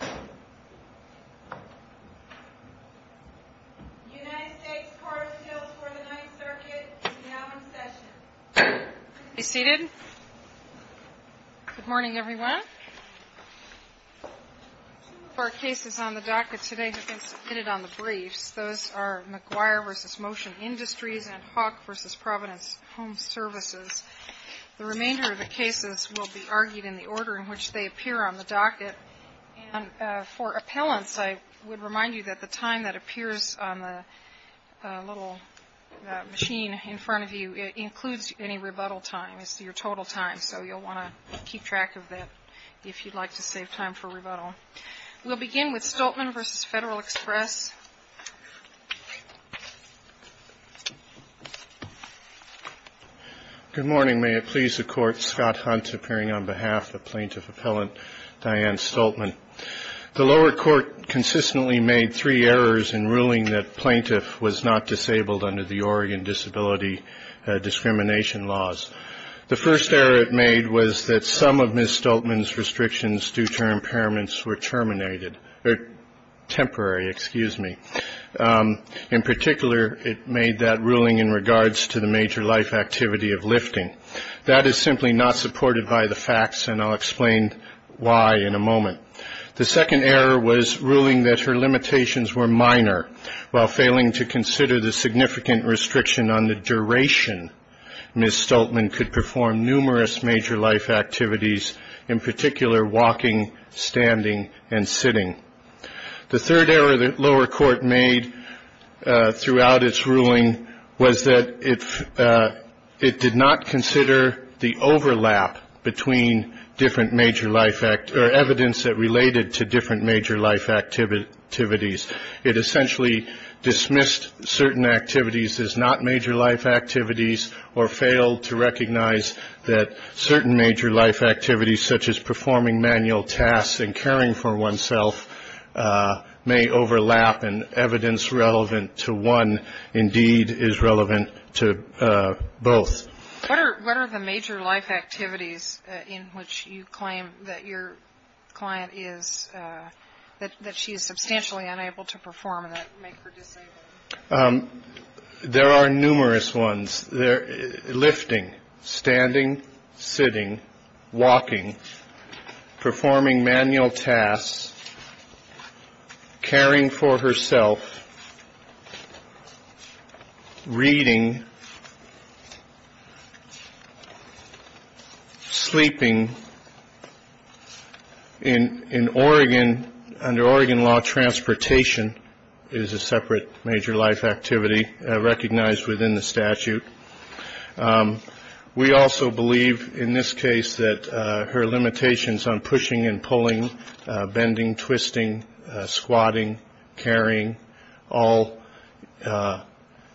The United States Court of Appeals for the Ninth Circuit is now in session. Be seated. Good morning, everyone. Two of our cases on the docket today have been submitted on the briefs. Those are McGuire v. Motion Industries and Hawk v. Providence Home Services. The remainder of the cases will be argued in the order in which they appear on the docket. And for appellants, I would remind you that the time that appears on the little machine in front of you, it includes any rebuttal time. It's your total time, so you'll want to keep track of that if you'd like to save time for rebuttal. We'll begin with Stoltman v. Federal Express. Good morning. May it please the Court. Scott Hunt, appearing on behalf of plaintiff appellant Diane Stoltman. The lower court consistently made three errors in ruling that plaintiff was not disabled under the Oregon disability discrimination laws. The first error it made was that some of Ms. Stoltman's restrictions due to her impairments were terminated, temporary, excuse me. In particular, it made that ruling in regards to the major life activity of lifting. That is simply not supported by the facts, and I'll explain why in a moment. The second error was ruling that her limitations were minor, while failing to consider the significant restriction on the duration Ms. Stoltman could perform numerous major life activities, in particular walking, standing, and sitting. The third error the lower court made throughout its ruling was that it did not consider the overlap between different major life or evidence that related to different major life activities. It essentially dismissed certain activities as not major life activities or failed to recognize that certain major life activities, such as performing manual tasks and caring for oneself, may overlap, and evidence relevant to one indeed is relevant to both. What are the major life activities in which you claim that your client is, that she is substantially unable to perform that make her disabled? There are numerous ones. Lifting, standing, sitting, walking, performing manual tasks, caring for herself, reading, sleeping. In Oregon, under Oregon law, transportation is a separate major life activity recognized within the statute. We also believe in this case that her limitations on pushing and pulling, bending, twisting, squatting, carrying, all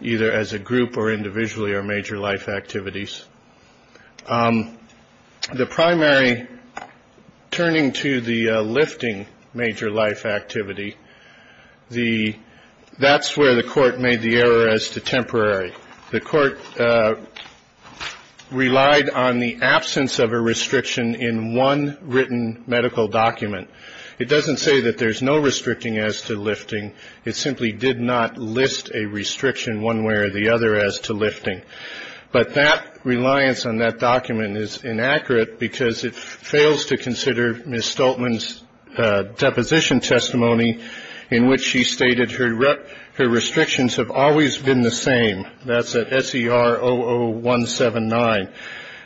either as a group or individually are major life activities. The primary turning to the lifting major life activity, that's where the court made the error as to temporary. The court relied on the absence of a restriction in one written medical document. It doesn't say that there's no restricting as to lifting. It simply did not list a restriction one way or the other as to lifting. But that reliance on that document is inaccurate because it fails to consider Ms. Stoltman's deposition testimony, in which she stated her restrictions have always been the same. That's at SER00179.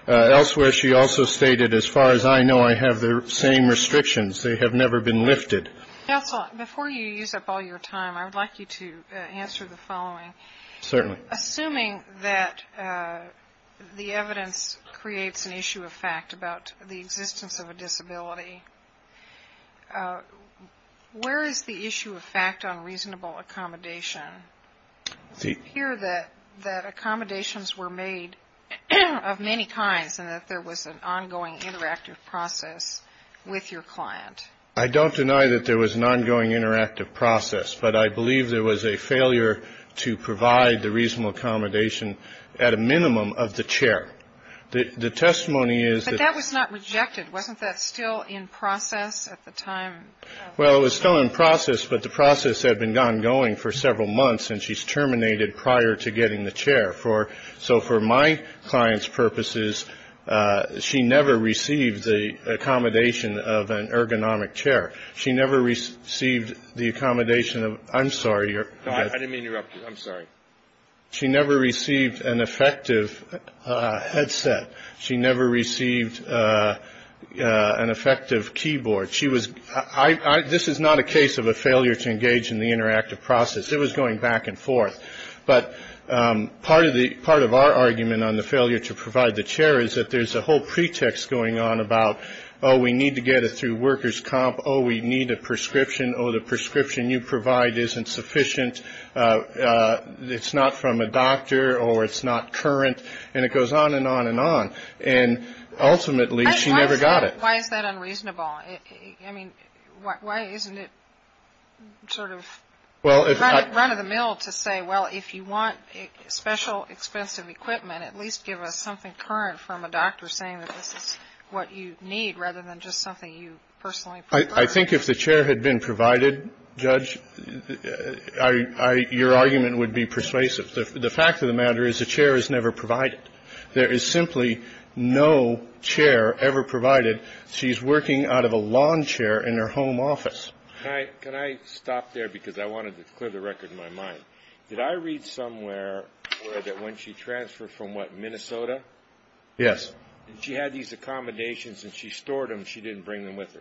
Elsewhere, she also stated, as far as I know, I have the same restrictions. They have never been lifted. Counsel, before you use up all your time, I would like you to answer the following. Certainly. Assuming that the evidence creates an issue of fact about the existence of a disability, where is the issue of fact on reasonable accommodation? I hear that accommodations were made of many kinds and that there was an ongoing interactive process with your client. I don't deny that there was an ongoing interactive process, but I believe there was a failure to provide the reasonable accommodation at a minimum of the chair. The testimony is that that was not rejected. Wasn't that still in process at the time? Well, it was still in process, but the process had been ongoing for several months, and she's terminated prior to getting the chair. So for my client's purposes, she never received the accommodation of an ergonomic chair. She never received the accommodation of – I'm sorry. I didn't mean to interrupt you. I'm sorry. She never received an effective headset. She never received an effective keyboard. She was – this is not a case of a failure to engage in the interactive process. It was going back and forth. But part of our argument on the failure to provide the chair is that there's a whole pretext going on about, oh, we need to get it through workers' comp. Oh, we need a prescription. Oh, the prescription you provide isn't sufficient. It's not from a doctor or it's not current. And it goes on and on and on. And ultimately, she never got it. Why is that unreasonable? I mean, why isn't it sort of run-of-the-mill to say, well, if you want special expensive equipment, at least give us something current from a doctor saying that this is what you need rather than just something you personally prefer? I think if the chair had been provided, Judge, your argument would be persuasive. The fact of the matter is the chair is never provided. There is simply no chair ever provided. She's working out of a lawn chair in her home office. Can I stop there because I wanted to clear the record in my mind? Did I read somewhere that when she transferred from, what, Minnesota? Yes. She had these accommodations and she stored them. She didn't bring them with her.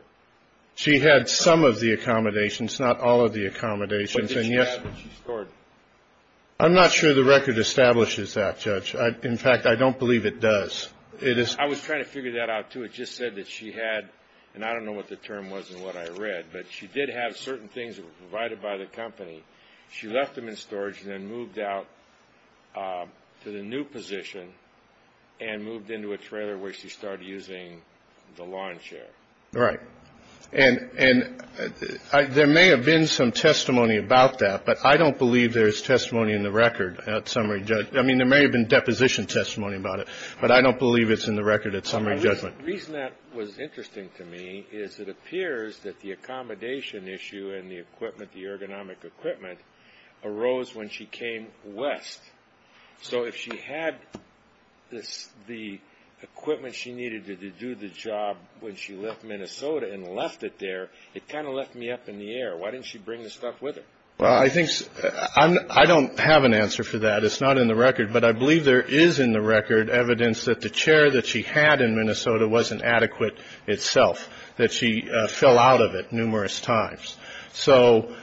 She had some of the accommodations, not all of the accommodations. What did she have that she stored? I'm not sure the record establishes that, Judge. In fact, I don't believe it does. I was trying to figure that out, too. It just said that she had, and I don't know what the term was and what I read, but she did have certain things that were provided by the company. She left them in storage and then moved out to the new position and moved into a trailer where she started using the lawn chair. Right. And there may have been some testimony about that, but I don't believe there is testimony in the record, at summary, Judge. I mean, there may have been deposition testimony about it, but I don't believe it's in the record at summary, Judge. The reason that was interesting to me is it appears that the accommodation issue and the equipment, the ergonomic equipment, arose when she came west. So if she had the equipment she needed to do the job when she left Minnesota and left it there, it kind of left me up in the air. Why didn't she bring the stuff with her? I don't have an answer for that. It's not in the record, but I believe there is in the record evidence that the chair that she had in Minnesota wasn't adequate itself, that she fell out of it numerous times. So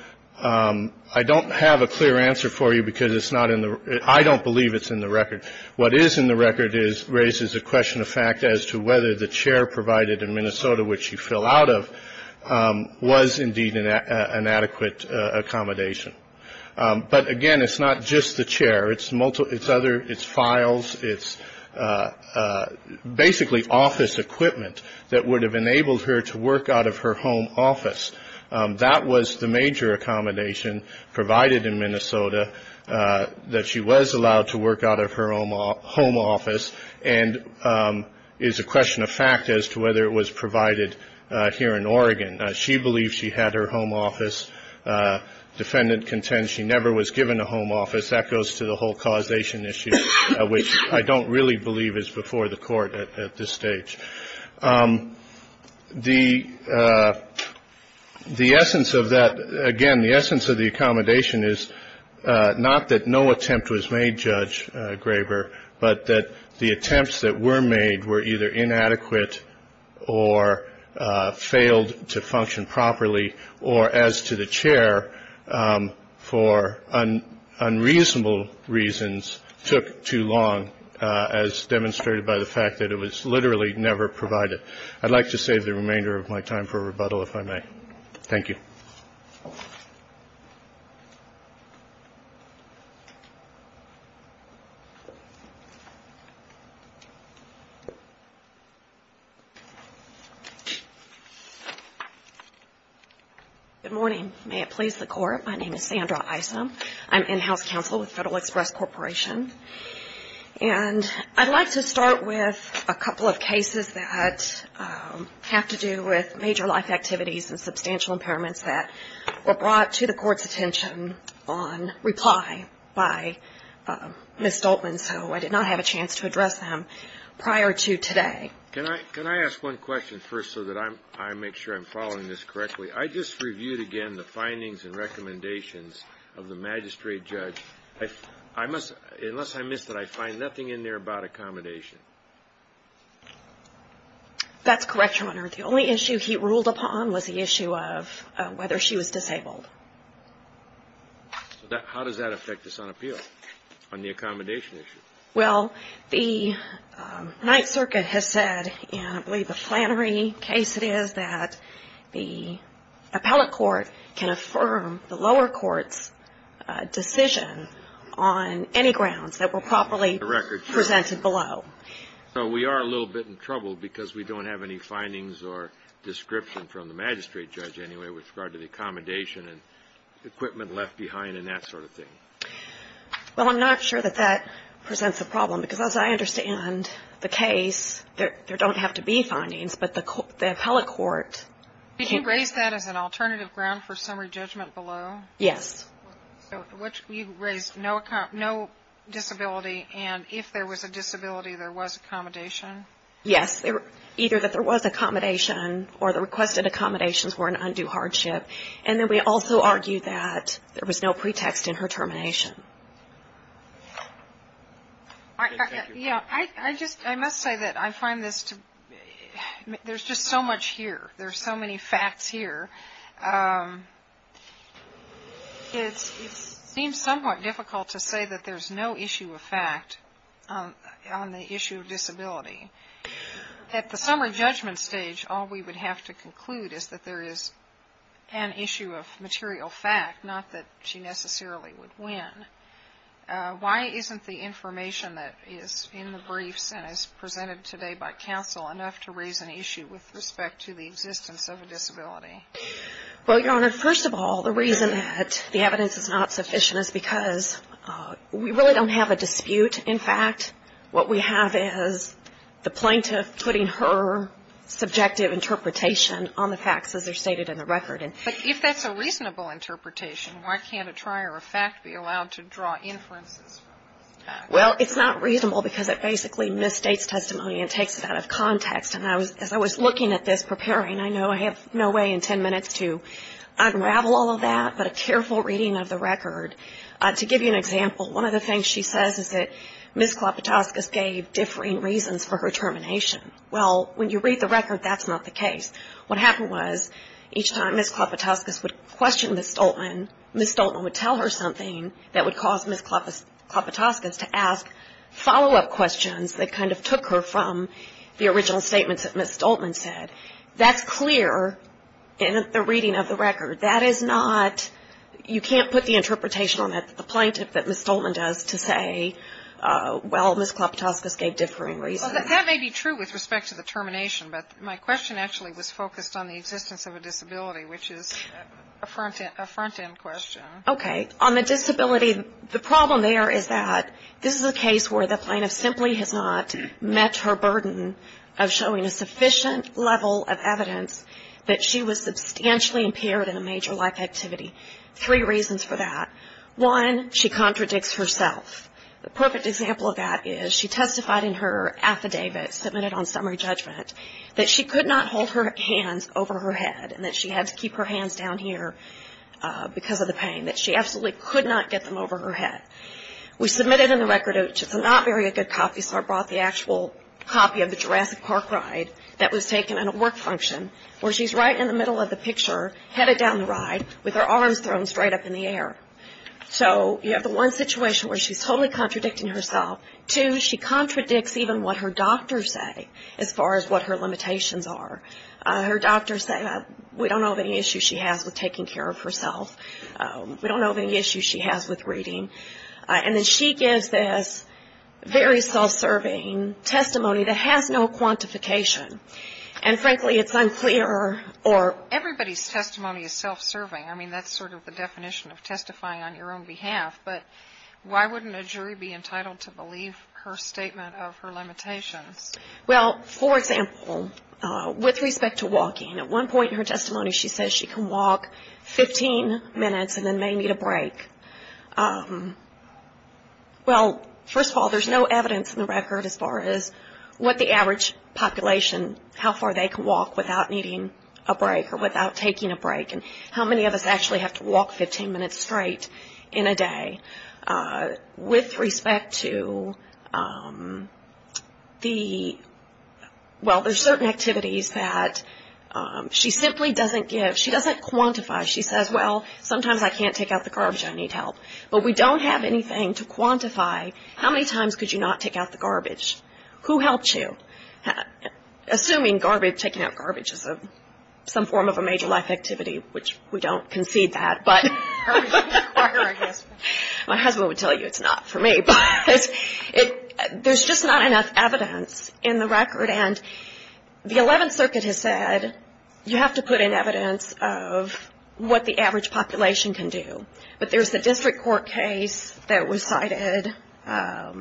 I don't have a clear answer for you because it's not in the I don't believe it's in the record. What is in the record is raises a question of fact as to whether the chair provided in Minnesota, which she fell out of, was indeed an adequate accommodation. But, again, it's not just the chair. It's other it's files. It's basically office equipment that would have enabled her to work out of her home office. That was the major accommodation provided in Minnesota that she was allowed to work out of her own home office and is a question of fact as to whether it was provided here in Oregon. She believed she had her home office. Defendant contends she never was given a home office. That goes to the whole causation issue, which I don't really believe is before the court at this stage. The essence of that, again, the essence of the accommodation is not that no attempt was made, Judge Graber, but that the attempts that were made were either inadequate or failed to function properly or, as to the chair, for unreasonable reasons took too long, as demonstrated by the fact that it was literally never provided. I'd like to save the remainder of my time for rebuttal, if I may. Thank you. Good morning. May it please the Court. My name is Sandra Isom. I'm in-house counsel with Federal Express Corporation. And I'd like to start with a couple of cases that have to do with major life activities and substantial impairments that were brought to the Court's attention on reply by Ms. Stoltman, so I did not have a chance to address them prior to today. Can I ask one question first so that I make sure I'm following this correctly? I just reviewed again the findings and recommendations of the magistrate judge. Unless I missed it, I find nothing in there about accommodation. That's correct, Your Honor. The only issue he ruled upon was the issue of whether she was disabled. How does that affect this on appeal, on the accommodation issue? Well, the Ninth Circuit has said, and I believe the Flannery case it is, that the appellate court can affirm the lower court's decision on any grounds that were properly presented below. So we are a little bit in trouble because we don't have any findings or description from the magistrate judge anyway with regard to the accommodation and equipment left behind and that sort of thing. Well, I'm not sure that that presents a problem because, as I understand the case, there don't have to be findings, but the appellate court can't. Did you raise that as an alternative ground for summary judgment below? Yes. So you raised no disability, and if there was a disability, there was accommodation? Yes. Either that there was accommodation or the requested accommodations were an undue hardship, and then we also argue that there was no pretext in her termination. I must say that I find this to be, there's just so much here. There's so many facts here. It seems somewhat difficult to say that there's no issue of fact on the issue of disability. At the summary judgment stage, all we would have to conclude is that there is an issue of material fact, not that she necessarily would win. Why isn't the information that is in the briefs and is presented today by counsel enough to raise an issue with respect to the existence of a disability? Well, Your Honor, first of all, the reason that the evidence is not sufficient is because we really don't have a dispute. In fact, what we have is the plaintiff putting her subjective interpretation on the facts as they're stated in the record. But if that's a reasonable interpretation, why can't a trier of fact be allowed to draw inferences? Well, it's not reasonable because it basically misstates testimony and takes it out of context. And as I was looking at this preparing, I know I have no way in 10 minutes to unravel all of that, but a careful reading of the record. To give you an example, one of the things she says is that Ms. Klopotowskis gave differing reasons for her termination. Well, when you read the record, that's not the case. What happened was each time Ms. Klopotowskis would question Ms. Stoltman, Ms. Stoltman would tell her something that would cause Ms. Klopotowskis to ask follow-up questions that kind of took her from the original statements that Ms. Stoltman said. That's clear in the reading of the record. That is not you can't put the interpretation on the plaintiff that Ms. Stoltman does to say, well, Ms. Klopotowskis gave differing reasons. Well, that may be true with respect to the termination, but my question actually was focused on the existence of a disability, which is a front-end question. Okay. On the disability, the problem there is that this is a case where the plaintiff simply has not met her burden of showing a sufficient level of evidence that she was substantially impaired in a major life activity. Three reasons for that. One, she contradicts herself. The perfect example of that is she testified in her affidavit submitted on summary judgment that she could not hold her hands over her head and that she had to keep her hands down here because of the pain, that she absolutely could not get them over her head. We submitted in the record, which is not very a good copy, so I brought the actual copy of the Jurassic Park ride that was taken in a work function where she's right in the middle of the picture headed down the ride with her arms thrown straight up in the air. So you have the one situation where she's totally contradicting herself. Two, she contradicts even what her doctors say as far as what her limitations are. Her doctors say, we don't know of any issues she has with taking care of herself. We don't know of any issues she has with reading. And then she gives this very self-serving testimony that has no quantification. And, frankly, it's unclear or — Everybody's testimony is self-serving. I mean, that's sort of the definition of testifying on your own behalf. But why wouldn't a jury be entitled to believe her statement of her limitations? Well, for example, with respect to walking, at one point in her testimony, she says she can walk 15 minutes and then may need a break. Well, first of all, there's no evidence in the record as far as what the average population, how far they can walk without needing a break or without taking a break, and how many of us actually have to walk 15 minutes straight in a day. With respect to the — well, there's certain activities that she simply doesn't give. She doesn't quantify. She says, well, sometimes I can't take out the garbage, I need help. But we don't have anything to quantify how many times could you not take out the garbage. Who helped you? Assuming garbage, taking out garbage is some form of a major life activity, which we don't concede that. But my husband would tell you it's not for me. But there's just not enough evidence in the record. And the Eleventh Circuit has said you have to put in evidence of what the average population can do. But there's the district court case that was cited by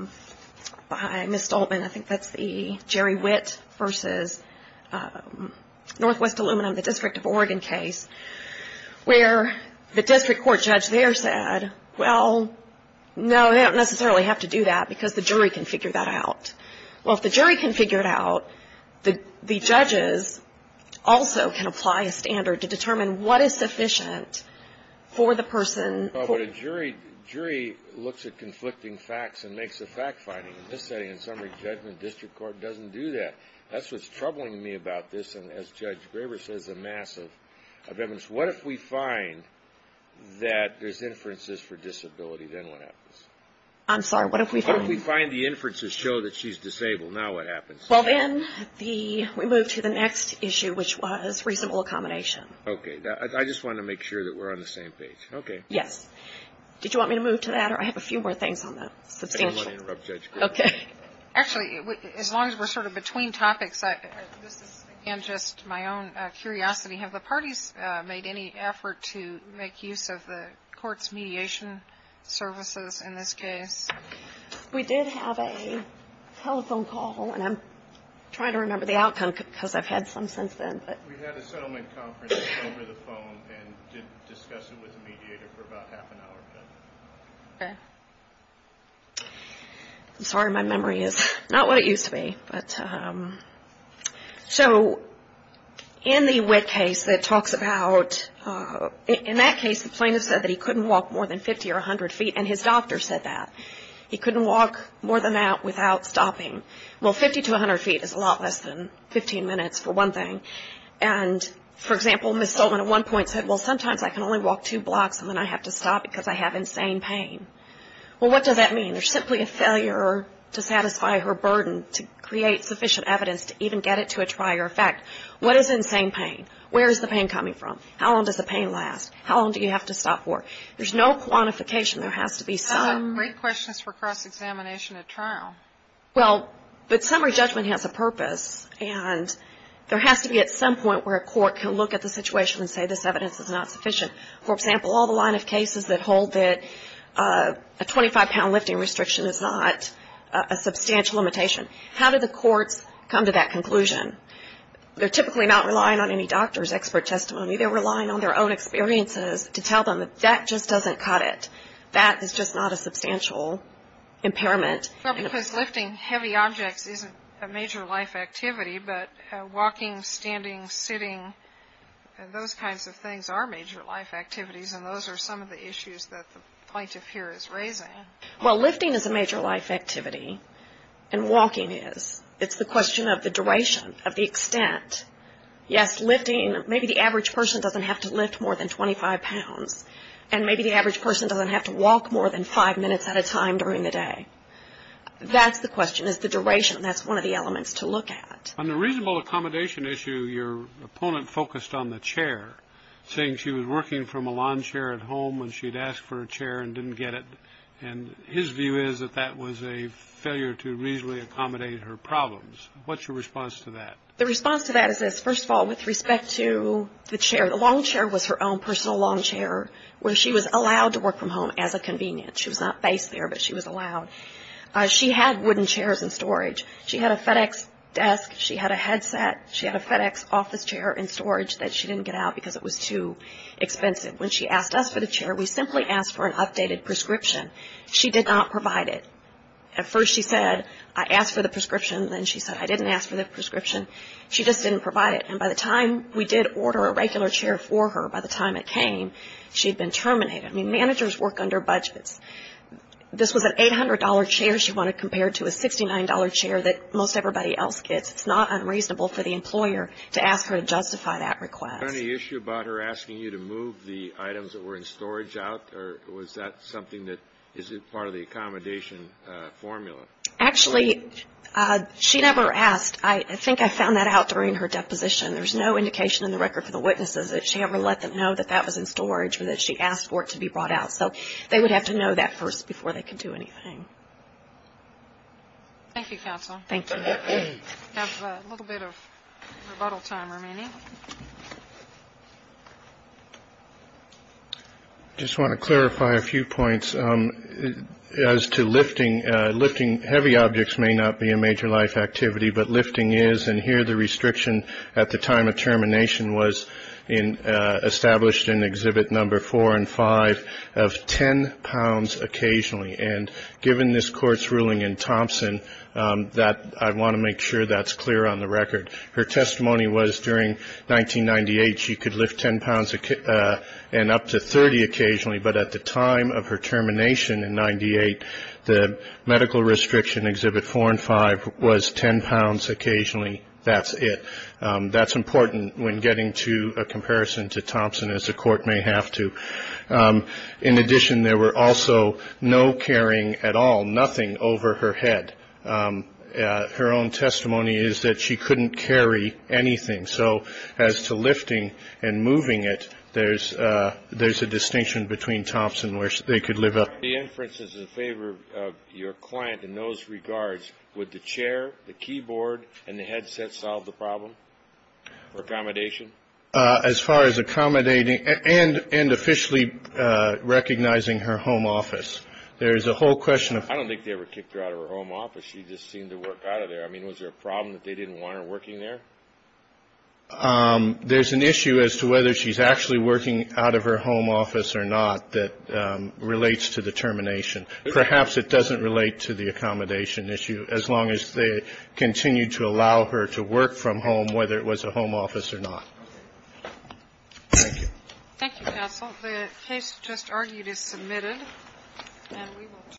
Ms. Stoltman. I think that's the Jerry Witt v. Northwest Aluminum, the District of Oregon case, where the district court judge there said, well, no, they don't necessarily have to do that because the jury can figure that out. Well, if the jury can figure it out, the judges also can apply a standard to determine what is sufficient for the person. But a jury looks at conflicting facts and makes a fact finding. In this setting, in summary judgment, district court doesn't do that. That's what's troubling me about this. And as Judge Graber says, a mass of evidence. What if we find that there's inferences for disability? Then what happens? I'm sorry. What if we find the inferences show that she's disabled? Now what happens? Well, then we move to the next issue, which was reasonable accommodation. Okay. I just wanted to make sure that we're on the same page. Okay. Yes. Did you want me to move to that? Or I have a few more things on that. Substantial. I didn't want to interrupt Judge Graber. Okay. Actually, as long as we're sort of between topics, this is, again, just my own curiosity. Have the parties made any effort to make use of the court's mediation services in this case? We did have a telephone call, and I'm trying to remember the outcome because I've had some since then. We had a settlement conference over the phone and did discuss it with the mediator for about half an hour. Okay. I'm sorry. My memory is not what it used to be. So in the wit case that talks about, in that case, the plaintiff said that he couldn't walk more than 50 or 100 feet, and his doctor said that. He couldn't walk more than that without stopping. Well, 50 to 100 feet is a lot less than 15 minutes for one thing. And, for example, Ms. Sullivan at one point said, well, sometimes I can only walk two blocks, and then I have to stop because I have insane pain. Well, what does that mean? There's simply a failure to satisfy her burden to create sufficient evidence to even get it to a trier effect. What is insane pain? Where is the pain coming from? How long does the pain last? How long do you have to stop for? There's no quantification. There has to be some. Great questions for cross-examination at trial. Well, but summary judgment has a purpose, and there has to be at some point where a court can look at the situation and say this evidence is not sufficient. For example, all the line of cases that hold that a 25-pound lifting restriction is not a substantial limitation. How do the courts come to that conclusion? They're typically not relying on any doctor's expert testimony. They're relying on their own experiences to tell them that that just doesn't cut it. That is just not a substantial impairment. Well, because lifting heavy objects isn't a major life activity, but walking, standing, sitting, and those kinds of things are major life activities, and those are some of the issues that the plaintiff here is raising. Well, lifting is a major life activity, and walking is. It's the question of the duration, of the extent. Yes, lifting, maybe the average person doesn't have to lift more than 25 pounds, and maybe the average person doesn't have to walk more than five minutes at a time during the day. That's the question, is the duration, and that's one of the elements to look at. On the reasonable accommodation issue, your opponent focused on the chair, saying she was working from a lawn chair at home and she'd asked for a chair and didn't get it, and his view is that that was a failure to reasonably accommodate her problems. What's your response to that? The response to that is this. First of all, with respect to the chair, the lawn chair was her own personal lawn chair where she was allowed to work from home as a convenience. She was not faced there, but she was allowed. She had wooden chairs in storage. She had a FedEx desk. She had a headset. She had a FedEx office chair in storage that she didn't get out because it was too expensive. When she asked us for the chair, we simply asked for an updated prescription. She did not provide it. At first she said, I asked for the prescription. Then she said, I didn't ask for the prescription. She just didn't provide it. And by the time we did order a regular chair for her, by the time it came, she'd been terminated. I mean, managers work under budgets. This was an $800 chair she wanted compared to a $69 chair that most everybody else gets. It's not unreasonable for the employer to ask her to justify that request. Was there any issue about her asking you to move the items that were in storage out? Or was that something that is part of the accommodation formula? Actually, she never asked. I think I found that out during her deposition. There's no indication in the record for the witnesses that she ever let them know that that was in storage or that she asked for it to be brought out. So they would have to know that first before they could do anything. Thank you, counsel. Thank you. We have a little bit of rebuttal time remaining. I just want to clarify a few points as to lifting. Lifting heavy objects may not be a major life activity, but lifting is. And here the restriction at the time of termination was established in Exhibit 4 and 5 of 10 pounds occasionally. And given this Court's ruling in Thompson, I want to make sure that's clear on the record. Her testimony was during 1998 she could lift 10 pounds and up to 30 occasionally. But at the time of her termination in 1998, the medical restriction, Exhibit 4 and 5, was 10 pounds occasionally. That's it. That's important when getting to a comparison to Thompson, as the Court may have to. In addition, there were also no carrying at all, nothing over her head. Her own testimony is that she couldn't carry anything. So as to lifting and moving it, there's a distinction between Thompson where they could lift up. The inferences in favor of your client in those regards, would the chair, the keyboard, and the headset solve the problem or accommodation? As far as accommodating and officially recognizing her home office, there is a whole question of... I don't think they ever kicked her out of her home office. She just seemed to work out of there. I mean, was there a problem that they didn't want her working there? There's an issue as to whether she's actually working out of her home office or not that relates to the termination. Perhaps it doesn't relate to the accommodation issue, as long as they continue to allow her to work from home, whether it was a home office or not. Thank you. Thank you, counsel. The case just argued is submitted. And we will...